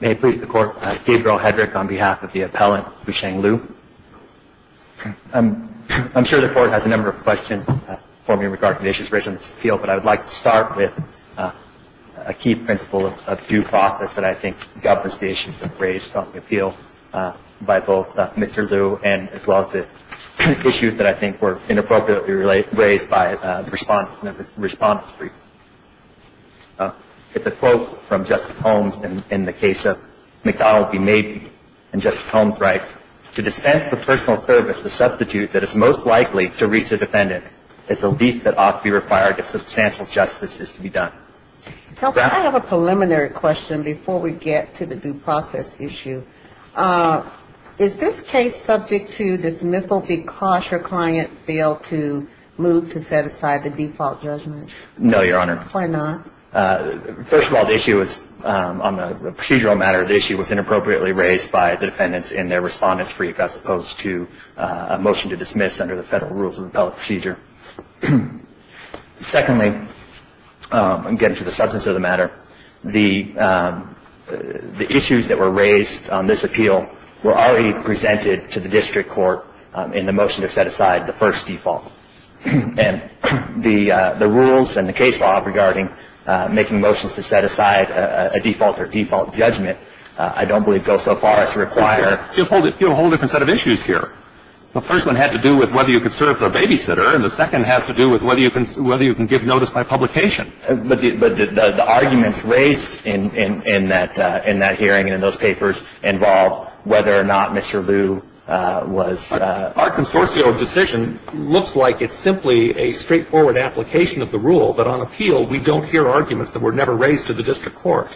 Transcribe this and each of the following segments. May it please the Court, Gabriel Hedrick on behalf of the appellant, Hsuan-Liu. I'm sure the Court has a number of questions for me regarding the issues raised in this appeal, but I would like to start with a key principle of due process that I think governs the issues raised on the appeal by both Mr. Liu and as well as the issues that I think were inappropriately raised by the respondents. It's a quote from Justice Holmes in the case of McDonnell v. Mabee. And Justice Holmes writes, To dispense with personal service, the substitute that is most likely to reach a defendant is the least that ought to be required if substantial justice is to be done. Counsel, I have a preliminary question before we get to the due process issue. Is this case subject to dismissal because your client failed to move to set aside the default charge? No, Your Honor. Why not? First of all, the issue was on a procedural matter. The issue was inappropriately raised by the defendants and their respondents for you, as opposed to a motion to dismiss under the federal rules of appellate procedure. Secondly, I'm getting to the substance of the matter. The issues that were raised on this appeal were already presented to the district court in the motion to set aside the first default. And the rules and the case law regarding making motions to set aside a default or default judgment I don't believe go so far as to require You have a whole different set of issues here. The first one had to do with whether you could serve the babysitter, and the second has to do with whether you can give notice by publication. But the arguments raised in that hearing and in those papers involved whether or not Mr. Liu was Our consortio decision looks like it's simply a straightforward application of the rule, but on appeal we don't hear arguments that were never raised to the district court.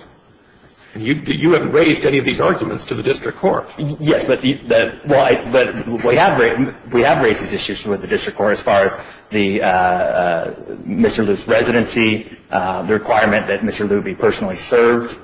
And you haven't raised any of these arguments to the district court. Yes, but we have raised these issues with the district court as far as Mr. Liu's residency, the requirement that Mr. Liu be personally served,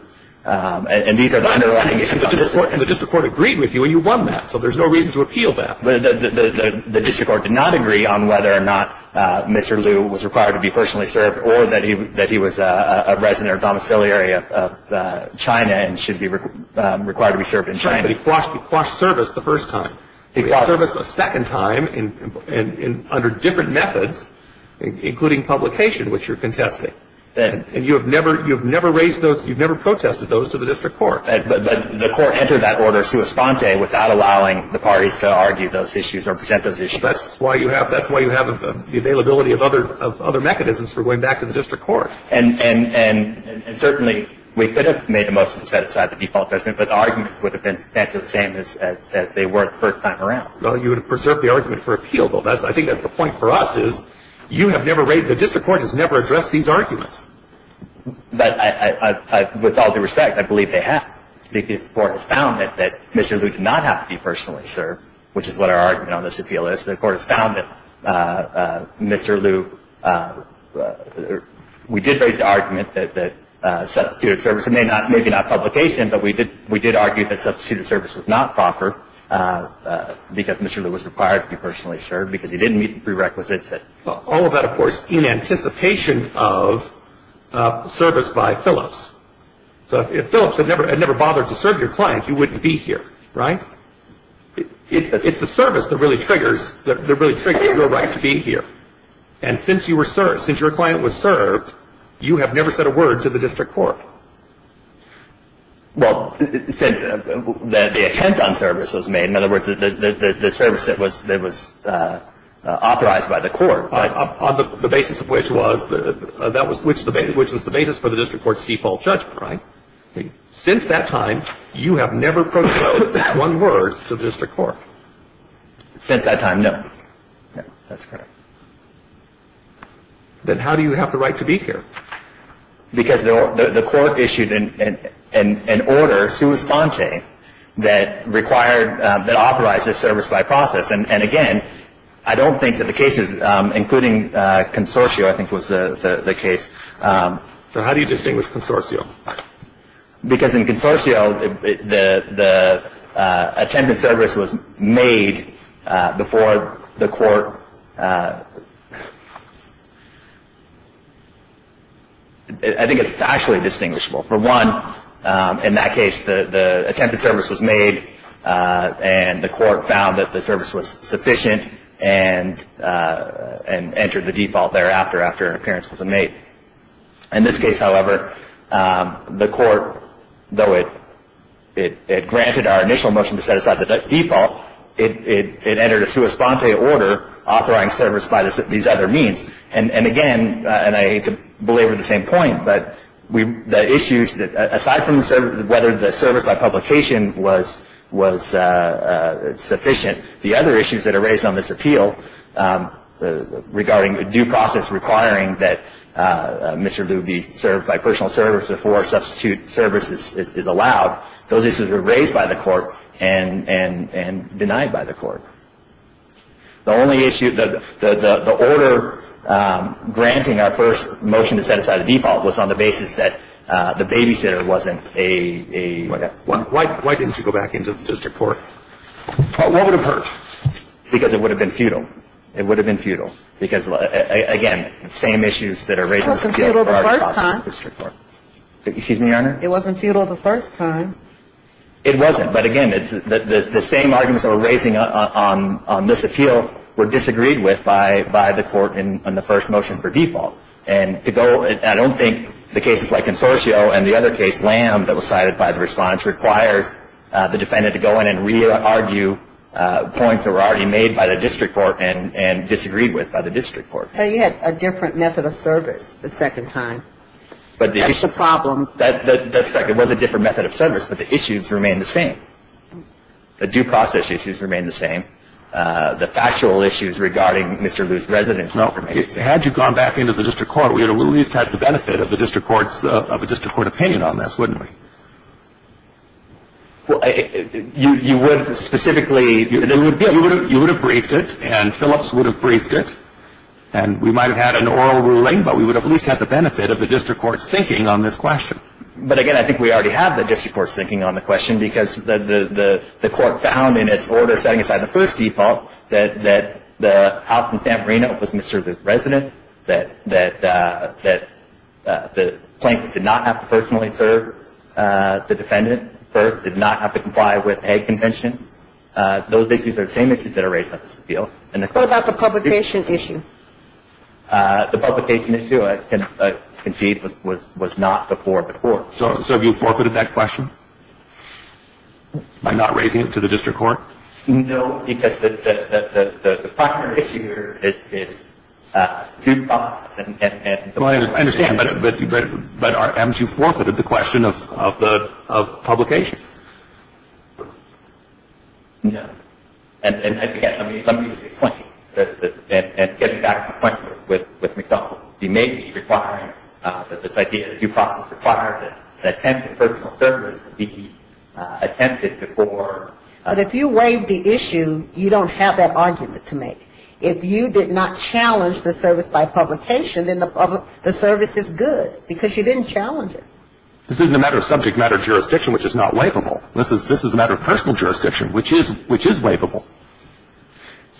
and these are the underlying issues on this case. And the district court agreed with you, and you won that. So there's no reason to appeal that. The district court did not agree on whether or not Mr. Liu was required to be personally served or that he was a resident or domiciliary of China and should be required to be served in China. But he quashed service the first time. He quashed service a second time under different methods, including publication, which you're contesting. And you have never raised those, you've never protested those to the district court. But the court entered that order sua sponte without allowing the parties to argue those issues or present those issues. That's why you have the availability of other mechanisms for going back to the district court. And certainly we could have made a motion to set aside the default judgment, but the argument would have been substantially the same as they were the first time around. Well, you would have preserved the argument for appeal, but I think that's the point for us is the district court has never addressed these arguments. But with all due respect, I believe they have, because the court has found that Mr. Liu did not have to be personally served, which is what our argument on this appeal is. The court has found that Mr. Liu, we did raise the argument that substituted service, maybe not publication, but we did argue that substituted service was not proper because Mr. Liu was required to be personally served because he didn't meet the prerequisites. All of that, of course, in anticipation of service by Phillips. If Phillips had never bothered to serve your client, you wouldn't be here, right? It's the service that really triggers your right to be here. And since your client was served, you have never said a word to the district court. Well, the attempt on service was made. In other words, the service that was authorized by the court. On the basis of which was the basis for the district court's default judgment, right? Since that time, you have never proposed that one word to the district court. Since that time, no. That's correct. Then how do you have the right to be here? Because the court issued an order sui sponte that required, that authorized the service by process. And again, I don't think that the cases, including Consorcio, I think was the case. So how do you distinguish Consorcio? Because in Consorcio, the attempt on service was made before the court. I think it's actually distinguishable. For one, in that case, the attempt on service was made and the court found that the service was sufficient and entered the default there after an appearance was made. In this case, however, the court, though it granted our initial motion to set aside the default, it entered a sui sponte order authorizing service by these other means. And again, and I hate to belabor the same point, but the issues aside from whether the service by publication was sufficient, the other issues that are raised on this appeal regarding due process requiring that Mr. Lube be served by personal service before substitute service is allowed, those issues were raised by the court and denied by the court. The only issue, the order granting our first motion to set aside the default was on the basis that the babysitter wasn't a Why didn't you go back into the district court? What would have hurt? Because it would have been futile. It would have been futile. Because, again, the same issues that are raised in the district court. It wasn't futile the first time. Excuse me, Your Honor? It wasn't futile the first time. It wasn't. But, again, the same arguments that were raised on this appeal were disagreed with by the court in the first motion for default. And to go, I don't think the cases like Consorcio and the other case, Lamb, that was cited by the response requires the defendant to go in and re-argue points that were already made by the district court and disagreed with by the district court. But you had a different method of service the second time. That's the problem. That's correct. It was a different method of service, but the issues remained the same. The due process issues remained the same. The factual issues regarding Mr. Lube's residency remained the same. Had you gone back into the district court, we would have at least had the benefit of a district court opinion on this, wouldn't we? Well, you would have specifically. You would have briefed it, and Phillips would have briefed it. And we might have had an oral ruling, but we would have at least had the benefit of the district court's thinking on this question. But, again, I think we already have the district court's thinking on the question because the court found in its order setting aside the first default that the house in San Marino was Mr. Lube's residence, that the plaintiff did not have to personally serve the defendant first, did not have to comply with a convention. Those issues are the same issues that are raised on this appeal. What about the publication issue? The publication issue, I concede, was not before the court. So have you forfeited that question by not raising it to the district court? No, because the primary issue here is due process. I understand, but you forfeited the question of publication. And, again, let me just explain. And getting back to the point with McDonald, he may be requiring that this idea of due process require that attempted personal service be attempted before. But if you waive the issue, you don't have that argument to make. If you did not challenge the service by publication, then the service is good because you didn't challenge it. This isn't a matter of subject matter jurisdiction, which is not waivable. This is a matter of personal jurisdiction, which is waivable.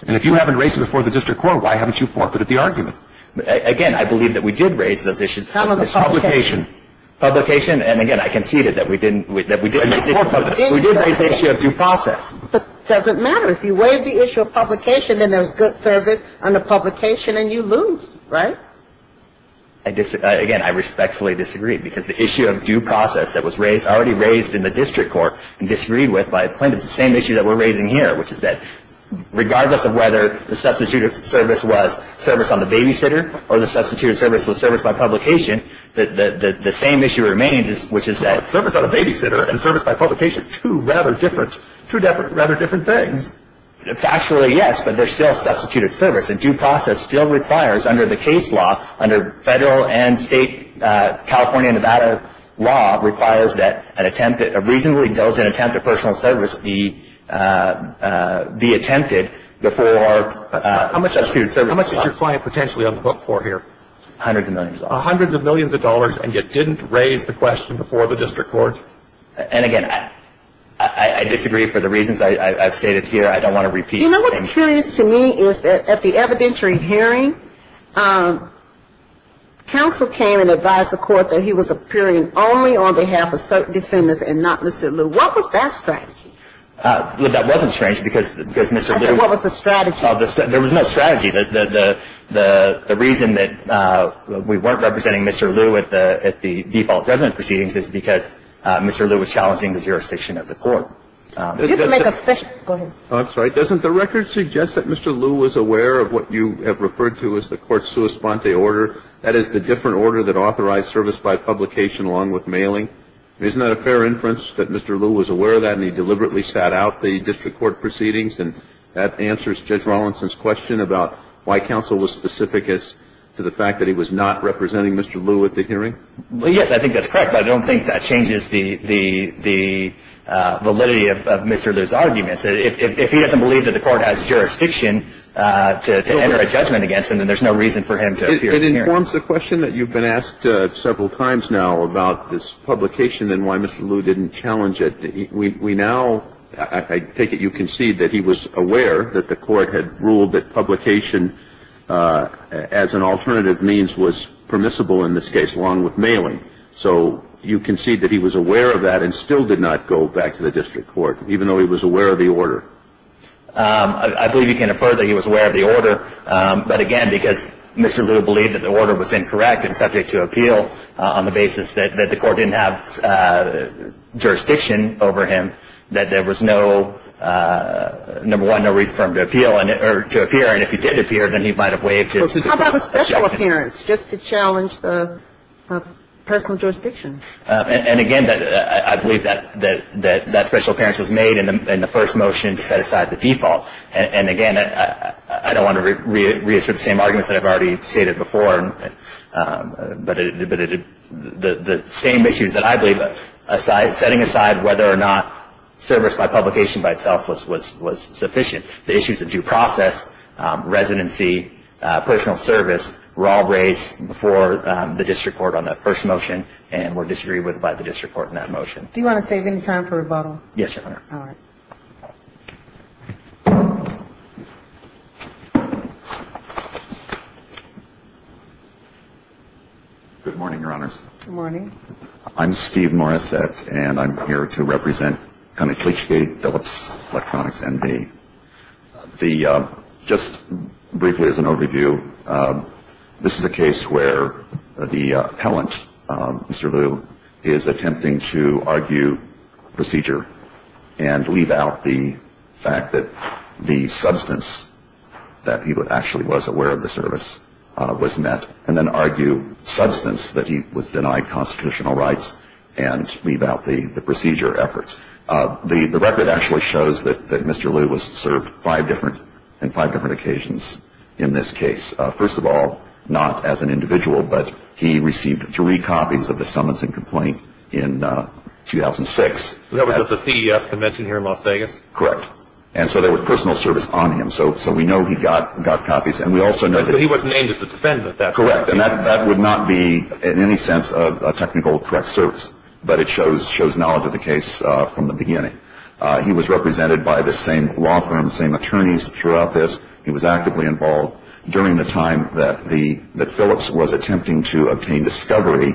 And if you haven't raised it before the district court, why haven't you forfeited the argument? Again, I believe that we did raise those issues. How about the publication? Publication. Publication. And, again, I conceded that we didn't raise the issue of due process. But it doesn't matter. If you waive the issue of publication, then there's good service under publication and you lose, right? Again, I respectfully disagree, because the issue of due process that was raised, already raised in the district court, and disagreed with by plaintiffs, the same issue that we're raising here, which is that regardless of whether the substituted service was service on the babysitter or the substituted service was service by publication, the same issue remains, which is that- Service on the babysitter and service by publication, two rather different things. Factually, yes, but they're still substituted service. And due process still requires, under the case law, under federal and state California and Nevada law, requires that a reasonably intelligent attempt at personal service be attempted before- How much is your client potentially on the hook for here? Hundreds of millions of dollars. Hundreds of millions of dollars and yet didn't raise the question before the district court? And, again, I disagree for the reasons I've stated here. I don't want to repeat- You know what's curious to me is that at the evidentiary hearing, counsel came and advised the court that he was appearing only on behalf of certain defendants and not Mr. Liu. What was that strategy? That wasn't strange because Mr. Liu- What was the strategy? There was no strategy. The reason that we weren't representing Mr. Liu at the default resident proceedings is because Mr. Liu was challenging the jurisdiction of the court. You can make a special- Go ahead. I'm sorry. Doesn't the record suggest that Mr. Liu was aware of what you have referred to as the court's sua sponte order? That is the different order that authorized service by publication along with mailing. Isn't that a fair inference that Mr. Liu was aware of that and he deliberately sat out the district court proceedings? And that answers Judge Rawlinson's question about why counsel was specific as to the fact that he was not representing Mr. Liu at the hearing? Well, yes, I think that's correct, but I don't think that changes the validity of Mr. Liu's arguments. If he doesn't believe that the court has jurisdiction to enter a judgment against him, then there's no reason for him to appear at the hearing. It informs the question that you've been asked several times now about this publication and why Mr. Liu didn't challenge it. We now- I take it you concede that he was aware that the court had ruled that publication as an alternative means was permissible in this case along with mailing. So you concede that he was aware of that and still did not go back to the district court, even though he was aware of the order? I believe you can infer that he was aware of the order. But, again, because Mr. Liu believed that the order was incorrect and subject to appeal on the basis that the court didn't have jurisdiction over him, that there was no, number one, no reason for him to appear. And if he did appear, then he might have waived his- How about the special appearance just to challenge the personal jurisdiction? And, again, I believe that special appearance was made in the first motion to set aside the default. And, again, I don't want to reassert the same arguments that I've already stated before, but the same issues that I believe, setting aside whether or not service by publication by itself was sufficient. The issues of due process, residency, personal service were all raised before the district court on that first motion and were disagreed with by the district court in that motion. Do you want to save any time for rebuttal? Yes, Your Honor. All right. Good morning, Your Honors. Good morning. I'm Steve Morissette, and I'm here to represent Connick-Leachgate Phillips Electronics, MV. Just briefly as an overview, this is a case where the appellant, Mr. Lu, is attempting to argue procedure and leave out the fact that the substance that he actually was aware of the service was met and then argue substance that he was denied constitutional rights and leave out the procedure efforts. The record actually shows that Mr. Lu was served five different occasions in this case. First of all, not as an individual, but he received three copies of the summons and complaint in 2006. That was at the CES convention here in Las Vegas? Correct. And so there was personal service on him, so we know he got copies. And we also know that he was named as a defendant. Correct. And that would not be in any sense a technical correct service, but it shows knowledge of the case from the beginning. He was represented by the same law firm, the same attorneys throughout this. He was actively involved during the time that Phillips was attempting to obtain discovery.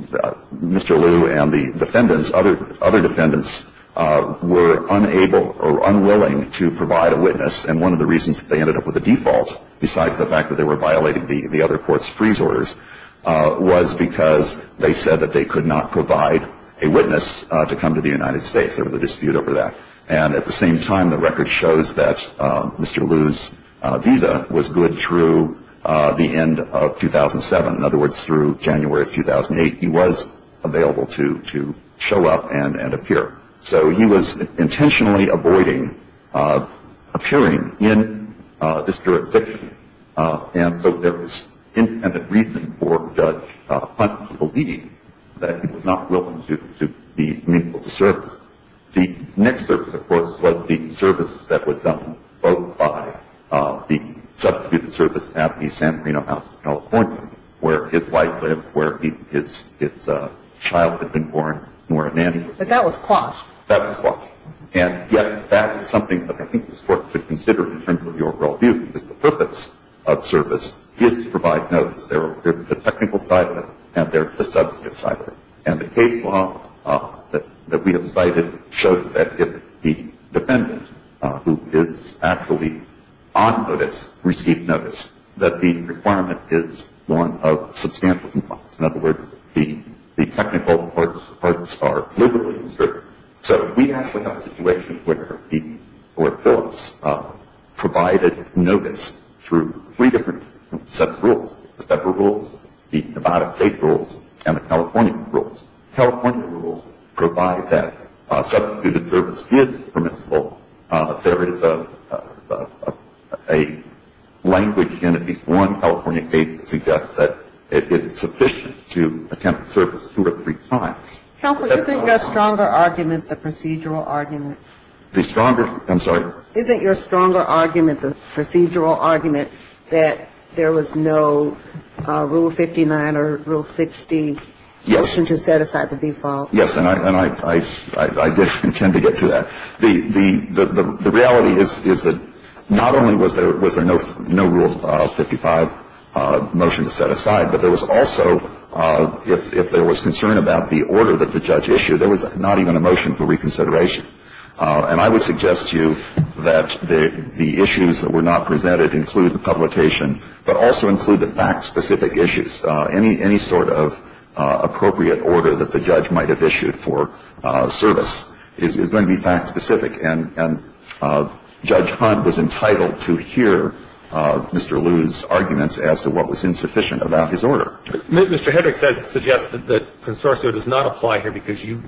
Mr. Lu and the defendants, other defendants, were unable or unwilling to provide a witness, and one of the reasons that they ended up with a default, besides the fact that they were violating the other court's freeze orders, was because they said that they could not provide a witness to come to the United States. There was a dispute over that. And at the same time, the record shows that Mr. Lu's visa was good through the end of 2007. In other words, through January of 2008, he was available to show up and appear. So he was intentionally avoiding appearing in this jurisdiction. And so there was independent reasoning for Judge Hunt believing that he was not willing to be meaningful to service. The next service, of course, was the service that was done both by the substituted service at the San Marino House in California, where his wife lived, where his child had been born, Nora Nandy. But that was quashed. That was quashed. And yet that is something that I think the Court should consider in terms of your worldview, because the purpose of service is to provide notice. There's the technical side of it, and there's the substance side of it. And the case law that we have cited shows that if the defendant, who is actually on notice, received notice, that the requirement is one of substantial compliance. In other words, the technical parts are deliberately uncertain. So we actually have a situation where the courts provided notice through three different sets of rules, the separate rules, the Nevada State rules, and the California rules. California rules provide that substituted service is permissible. There is a language in at least one California case that suggests that it is sufficient to attempt service two or three times. Counsel, isn't the stronger argument the procedural argument? The stronger? I'm sorry? Isn't your stronger argument the procedural argument that there was no Rule 59 or Rule 60? Yes. To set aside the default? Yes. And I did intend to get to that. The reality is that not only was there no Rule 55 motion to set aside, but there was also, if there was concern about the order that the judge issued, there was not even a motion for reconsideration. And I would suggest to you that the issues that were not presented include the publication, but also include the fact-specific issues. Any sort of appropriate order that the judge might have issued for service is going to be fact-specific. And Judge Hunt was entitled to hear Mr. Lew's arguments as to what was insufficient about his order. Mr. Hedrick suggests that the consortia does not apply here because you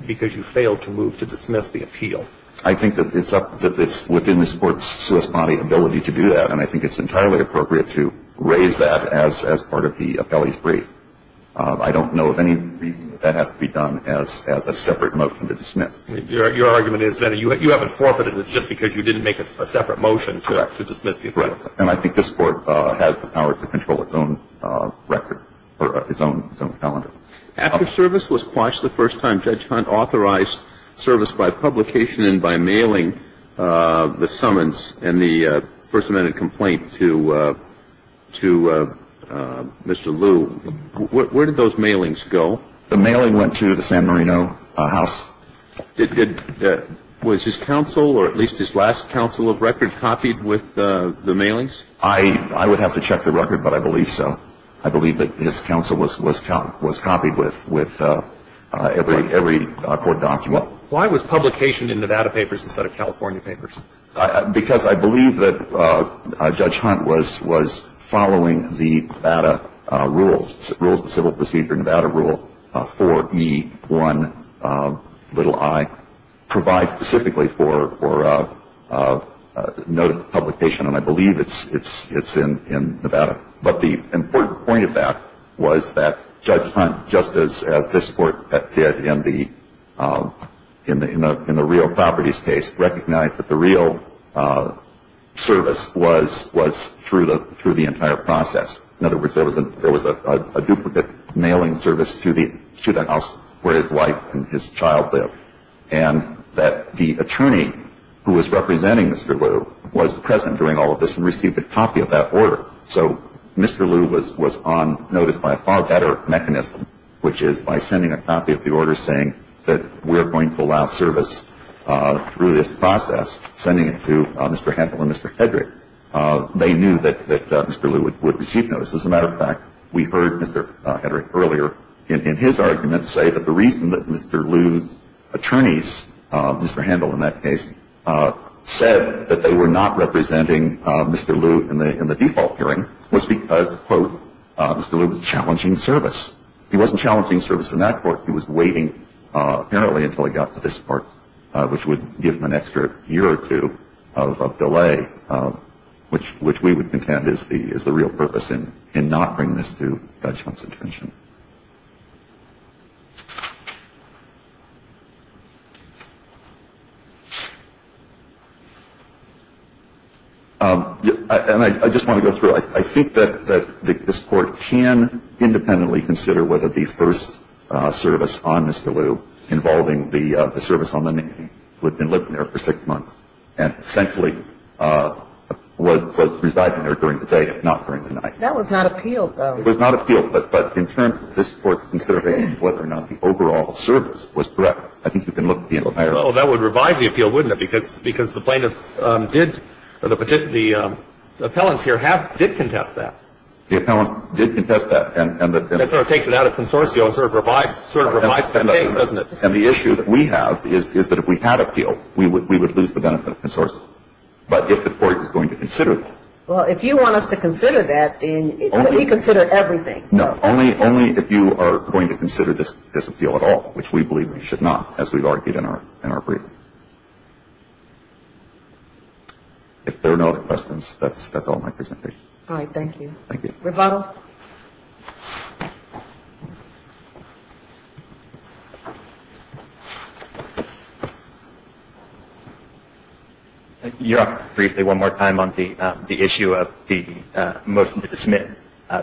failed to move to dismiss the appeal. I think that it's up to this within the sports service body ability to do that. And I think it's entirely appropriate to raise that as part of the appellee's brief. I don't know of any reason that that has to be done as a separate motion to dismiss. Your argument is that you haven't forfeited it just because you didn't make a separate motion to dismiss people. Correct. And I think this Court has the power to control its own record or its own calendar. After service was quashed the first time, Judge Hunt authorized service by publication and by mailing the summons and the first amendment complaint to Mr. Lew. Where did those mailings go? The mailing went to the San Marino House. Was his counsel or at least his last counsel of record copied with the mailings? I would have to check the record, but I believe so. I believe that his counsel was copied with every court document. Why was publication in Nevada papers instead of California papers? Because I believe that Judge Hunt was following the Nevada rules, the civil procedure, Nevada rule 4E1i provides specifically for note publication. And I believe it's in Nevada. But the important point of that was that Judge Hunt, just as this Court did in the real properties case, recognized that the real service was through the entire process. In other words, there was a duplicate mailing service to the house where his wife and his child lived, and that the attorney who was representing Mr. Lew was present during all of this and received a copy of that order. So Mr. Lew was on notice by a far better mechanism, which is by sending a copy of the order saying that we're going to allow service through this process, sending it to Mr. Handel and Mr. Hedrick. They knew that Mr. Lew would receive notice. As a matter of fact, we heard Mr. Hedrick earlier in his argument say that the reason that Mr. Lew's attorneys, Mr. Handel in that case, said that they were not representing Mr. Lew in the default hearing was because, quote, Mr. Lew was challenging service. He wasn't challenging service in that court. He was waiting apparently until he got to this court, which would give him an extra year or two of delay, which we would contend is the real purpose in not bringing this to judge Hunt's attention. And I just want to go through. I think that this court can independently consider whether the first service on Mr. Lew, involving the service on the man who had been living there for six months, and essentially was residing there during the day, if not during the night. That was not appealed, though. It was not appealed. But in terms of this court considering whether or not the overall service was correct, I think we can look at the entire. Well, that would revive the appeal, wouldn't it? Because the plaintiffs did, or the appellants here did contest that. The appellants did contest that. That sort of takes it out of consortium and sort of revives the case, doesn't it? And the issue that we have is that if we had appealed, we would lose the benefit of consortium. But if the court is going to consider that. Well, if you want us to consider that, then we consider everything. No. Only if you are going to consider this appeal at all, which we believe we should not, as we've argued in our brief. If there are no other questions, that's all my presentation. All right. Thank you. Thank you. We have one more. Your Honor, briefly, one more time on the issue of the motion to dismiss,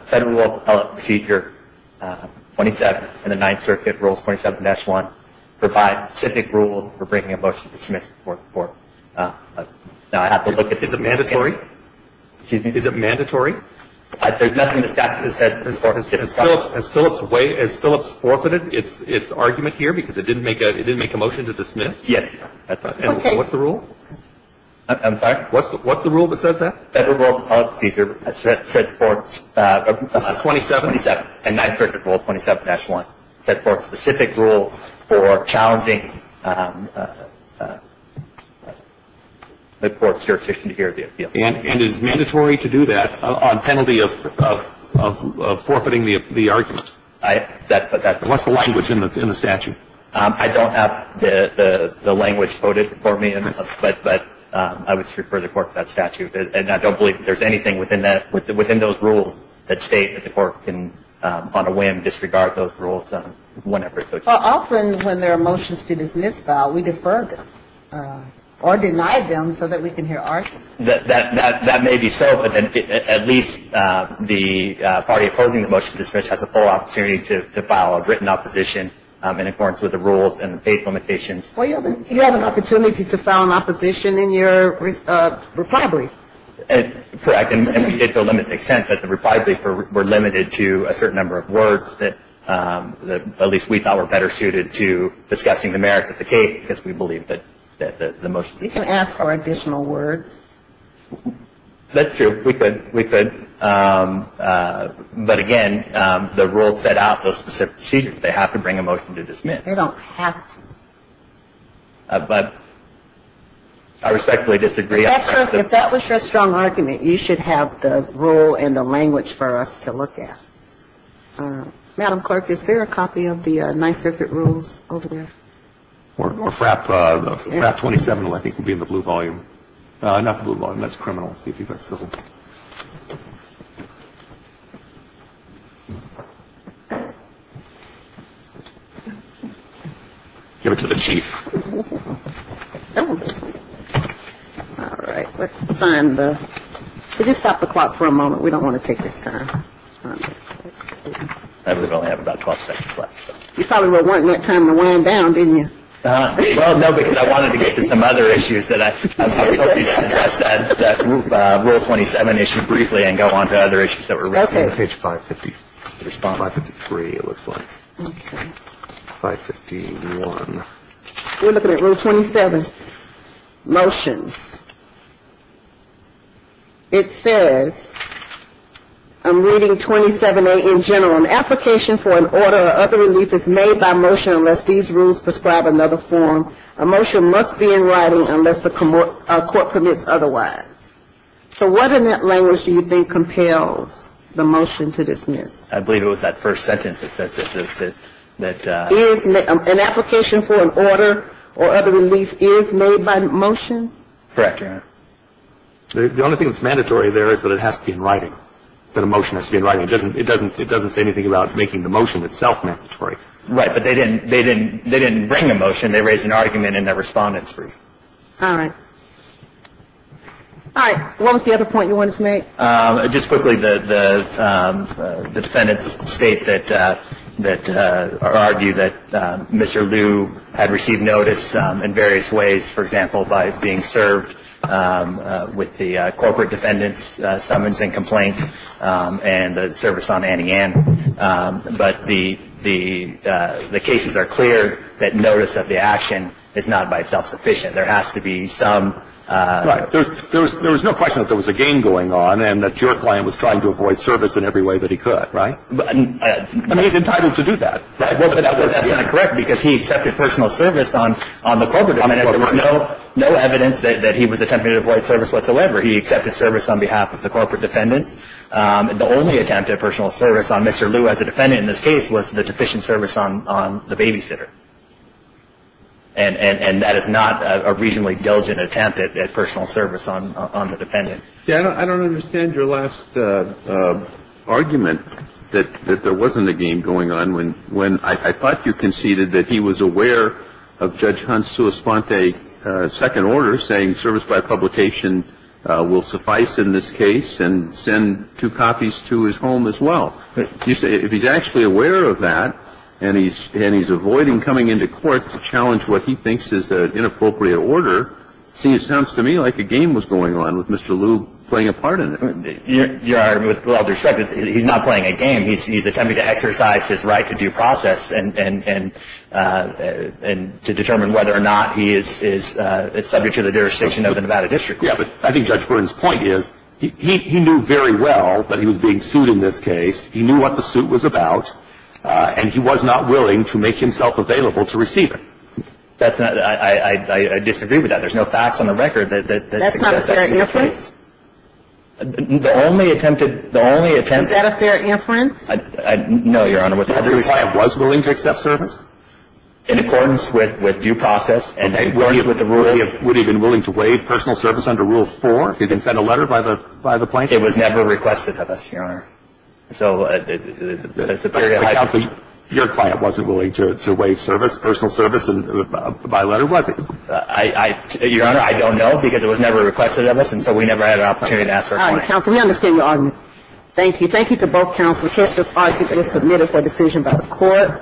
Federal Rule of Appellate Procedure 27 and the Ninth Circuit Rules 27-1 provides specific rules for bringing a motion to dismiss. Now, I have to look at this. Is it mandatory? Excuse me? Is it mandatory? There's nothing in this statute that says this Court has discussed. Has Phillips waived? Has Phillips forfeited its argument here because it didn't make a motion to dismiss? Yes. Okay. And what's the rule? I'm sorry? What's the rule that says that? Federal Rule of Appellate Procedure 27 and Ninth Circuit Rule 27-1 set forth specific rules for challenging the Court's jurisdiction to hear the appeal. And is it mandatory to do that on penalty of forfeiting the argument? That's what that says. What's the language in the statute? I don't have the language quoted for me, but I would refer the Court to that statute. And I don't believe there's anything within those rules that state that the Court can, on a whim, disregard those rules whenever it so chooses. Well, often when there are motions to dismiss file, we defer them or deny them so that we can hear arguments. That may be so, but at least the party opposing the motion to dismiss has a full opportunity to file a written opposition in accordance with the rules and the faith limitations. Well, you have an opportunity to file an opposition in your reply brief. Correct. And we did to a limited extent, but the reply brief were limited to a certain number of words that at least we thought were better suited to discussing the merits of the case because we believed that the motion. You can ask for additional words. That's true. We could. We could. But, again, the rules set out those specific procedures. They have to bring a motion to dismiss. They don't have to. But I respectfully disagree. If that was your strong argument, you should have the rule and the language for us to look at. Madam Clerk, is there a copy of the 9th Circuit Rules over there? Or FRAP 27, I think, would be in the blue volume. Not the blue volume. That's criminal. Give it to the chief. All right. Let's find the. Could you stop the clock for a moment? We don't want to take this time. We only have about 12 seconds left. You probably weren't wanting that time to wind down, didn't you? Well, no, because I wanted to get to some other issues that I. Rule 27 issue briefly and go on to other issues that were raised. Page 550. It looks like. We're looking at Rule 27. Motions. It says. I'm reading 27A in general. An application for an order or other relief is made by motion unless these rules prescribe another form. A motion must be in writing unless the court permits otherwise. So what in that language do you think compels the motion to dismiss? I believe it was that first sentence that says that. An application for an order or other relief is made by motion. Correct. The only thing that's mandatory there is that it has to be in writing. The motion has to be in writing. It doesn't it doesn't it doesn't say anything about making the motion itself mandatory. Right. But they didn't they didn't they didn't bring a motion. They raised an argument in their respondents. All right. All right. What was the other point you wanted to make? Just quickly, the defendants state that that argue that Mr. Liu had received notice in various ways, for example, by being served with the corporate defendants summons and complaint and the service on Annie Ann. But the the the cases are clear that notice of the action is not by itself sufficient. There has to be some. There was no question that there was a game going on and that your client was trying to avoid service in every way that he could. Right. I mean, he's entitled to do that. Correct. Because he accepted personal service on on the corporate. There was no evidence that he was attempting to avoid service whatsoever. He accepted service on behalf of the corporate defendants. The only attempt at personal service on Mr. Liu as a defendant in this case was the deficient service on the babysitter. And that is not a reasonably diligent attempt at personal service on on the defendant. Yeah, I don't understand your last argument that there wasn't a game going on when when I thought you conceded that he was aware of Judge Hunt's to respond to a second order saying service by publication will suffice in this case and send two copies to his home as well. You say if he's actually aware of that and he's and he's avoiding coming into court to challenge what he thinks is an inappropriate order. See, it sounds to me like a game was going on with Mr. Liu playing a part in it. You are. Well, he's not playing a game. He's he's attempting to exercise his right to due process and and and to determine whether or not he is is subject to the jurisdiction of the Nevada district. Yeah, but I think Judge Burns point is he knew very well that he was being sued in this case. He knew what the suit was about and he was not willing to make himself available to receive it. That's not I disagree with that. There's no facts on the record that that's not fair. The only attempted the only attempt at a fair inference. No, Your Honor. I was willing to accept service in accordance with with due process. And I agree with the ruling. Would he have been willing to waive personal service under rule four? He didn't send a letter by the by the plane. It was never requested of us. Your Honor. So your client wasn't willing to waive service, personal service. And my letter was I. Your Honor, I don't know because it was never requested of us. And so we never had an opportunity to ask for counsel. We understand you. Thank you. Thank you to both counsel. Just submitted for decision by the court.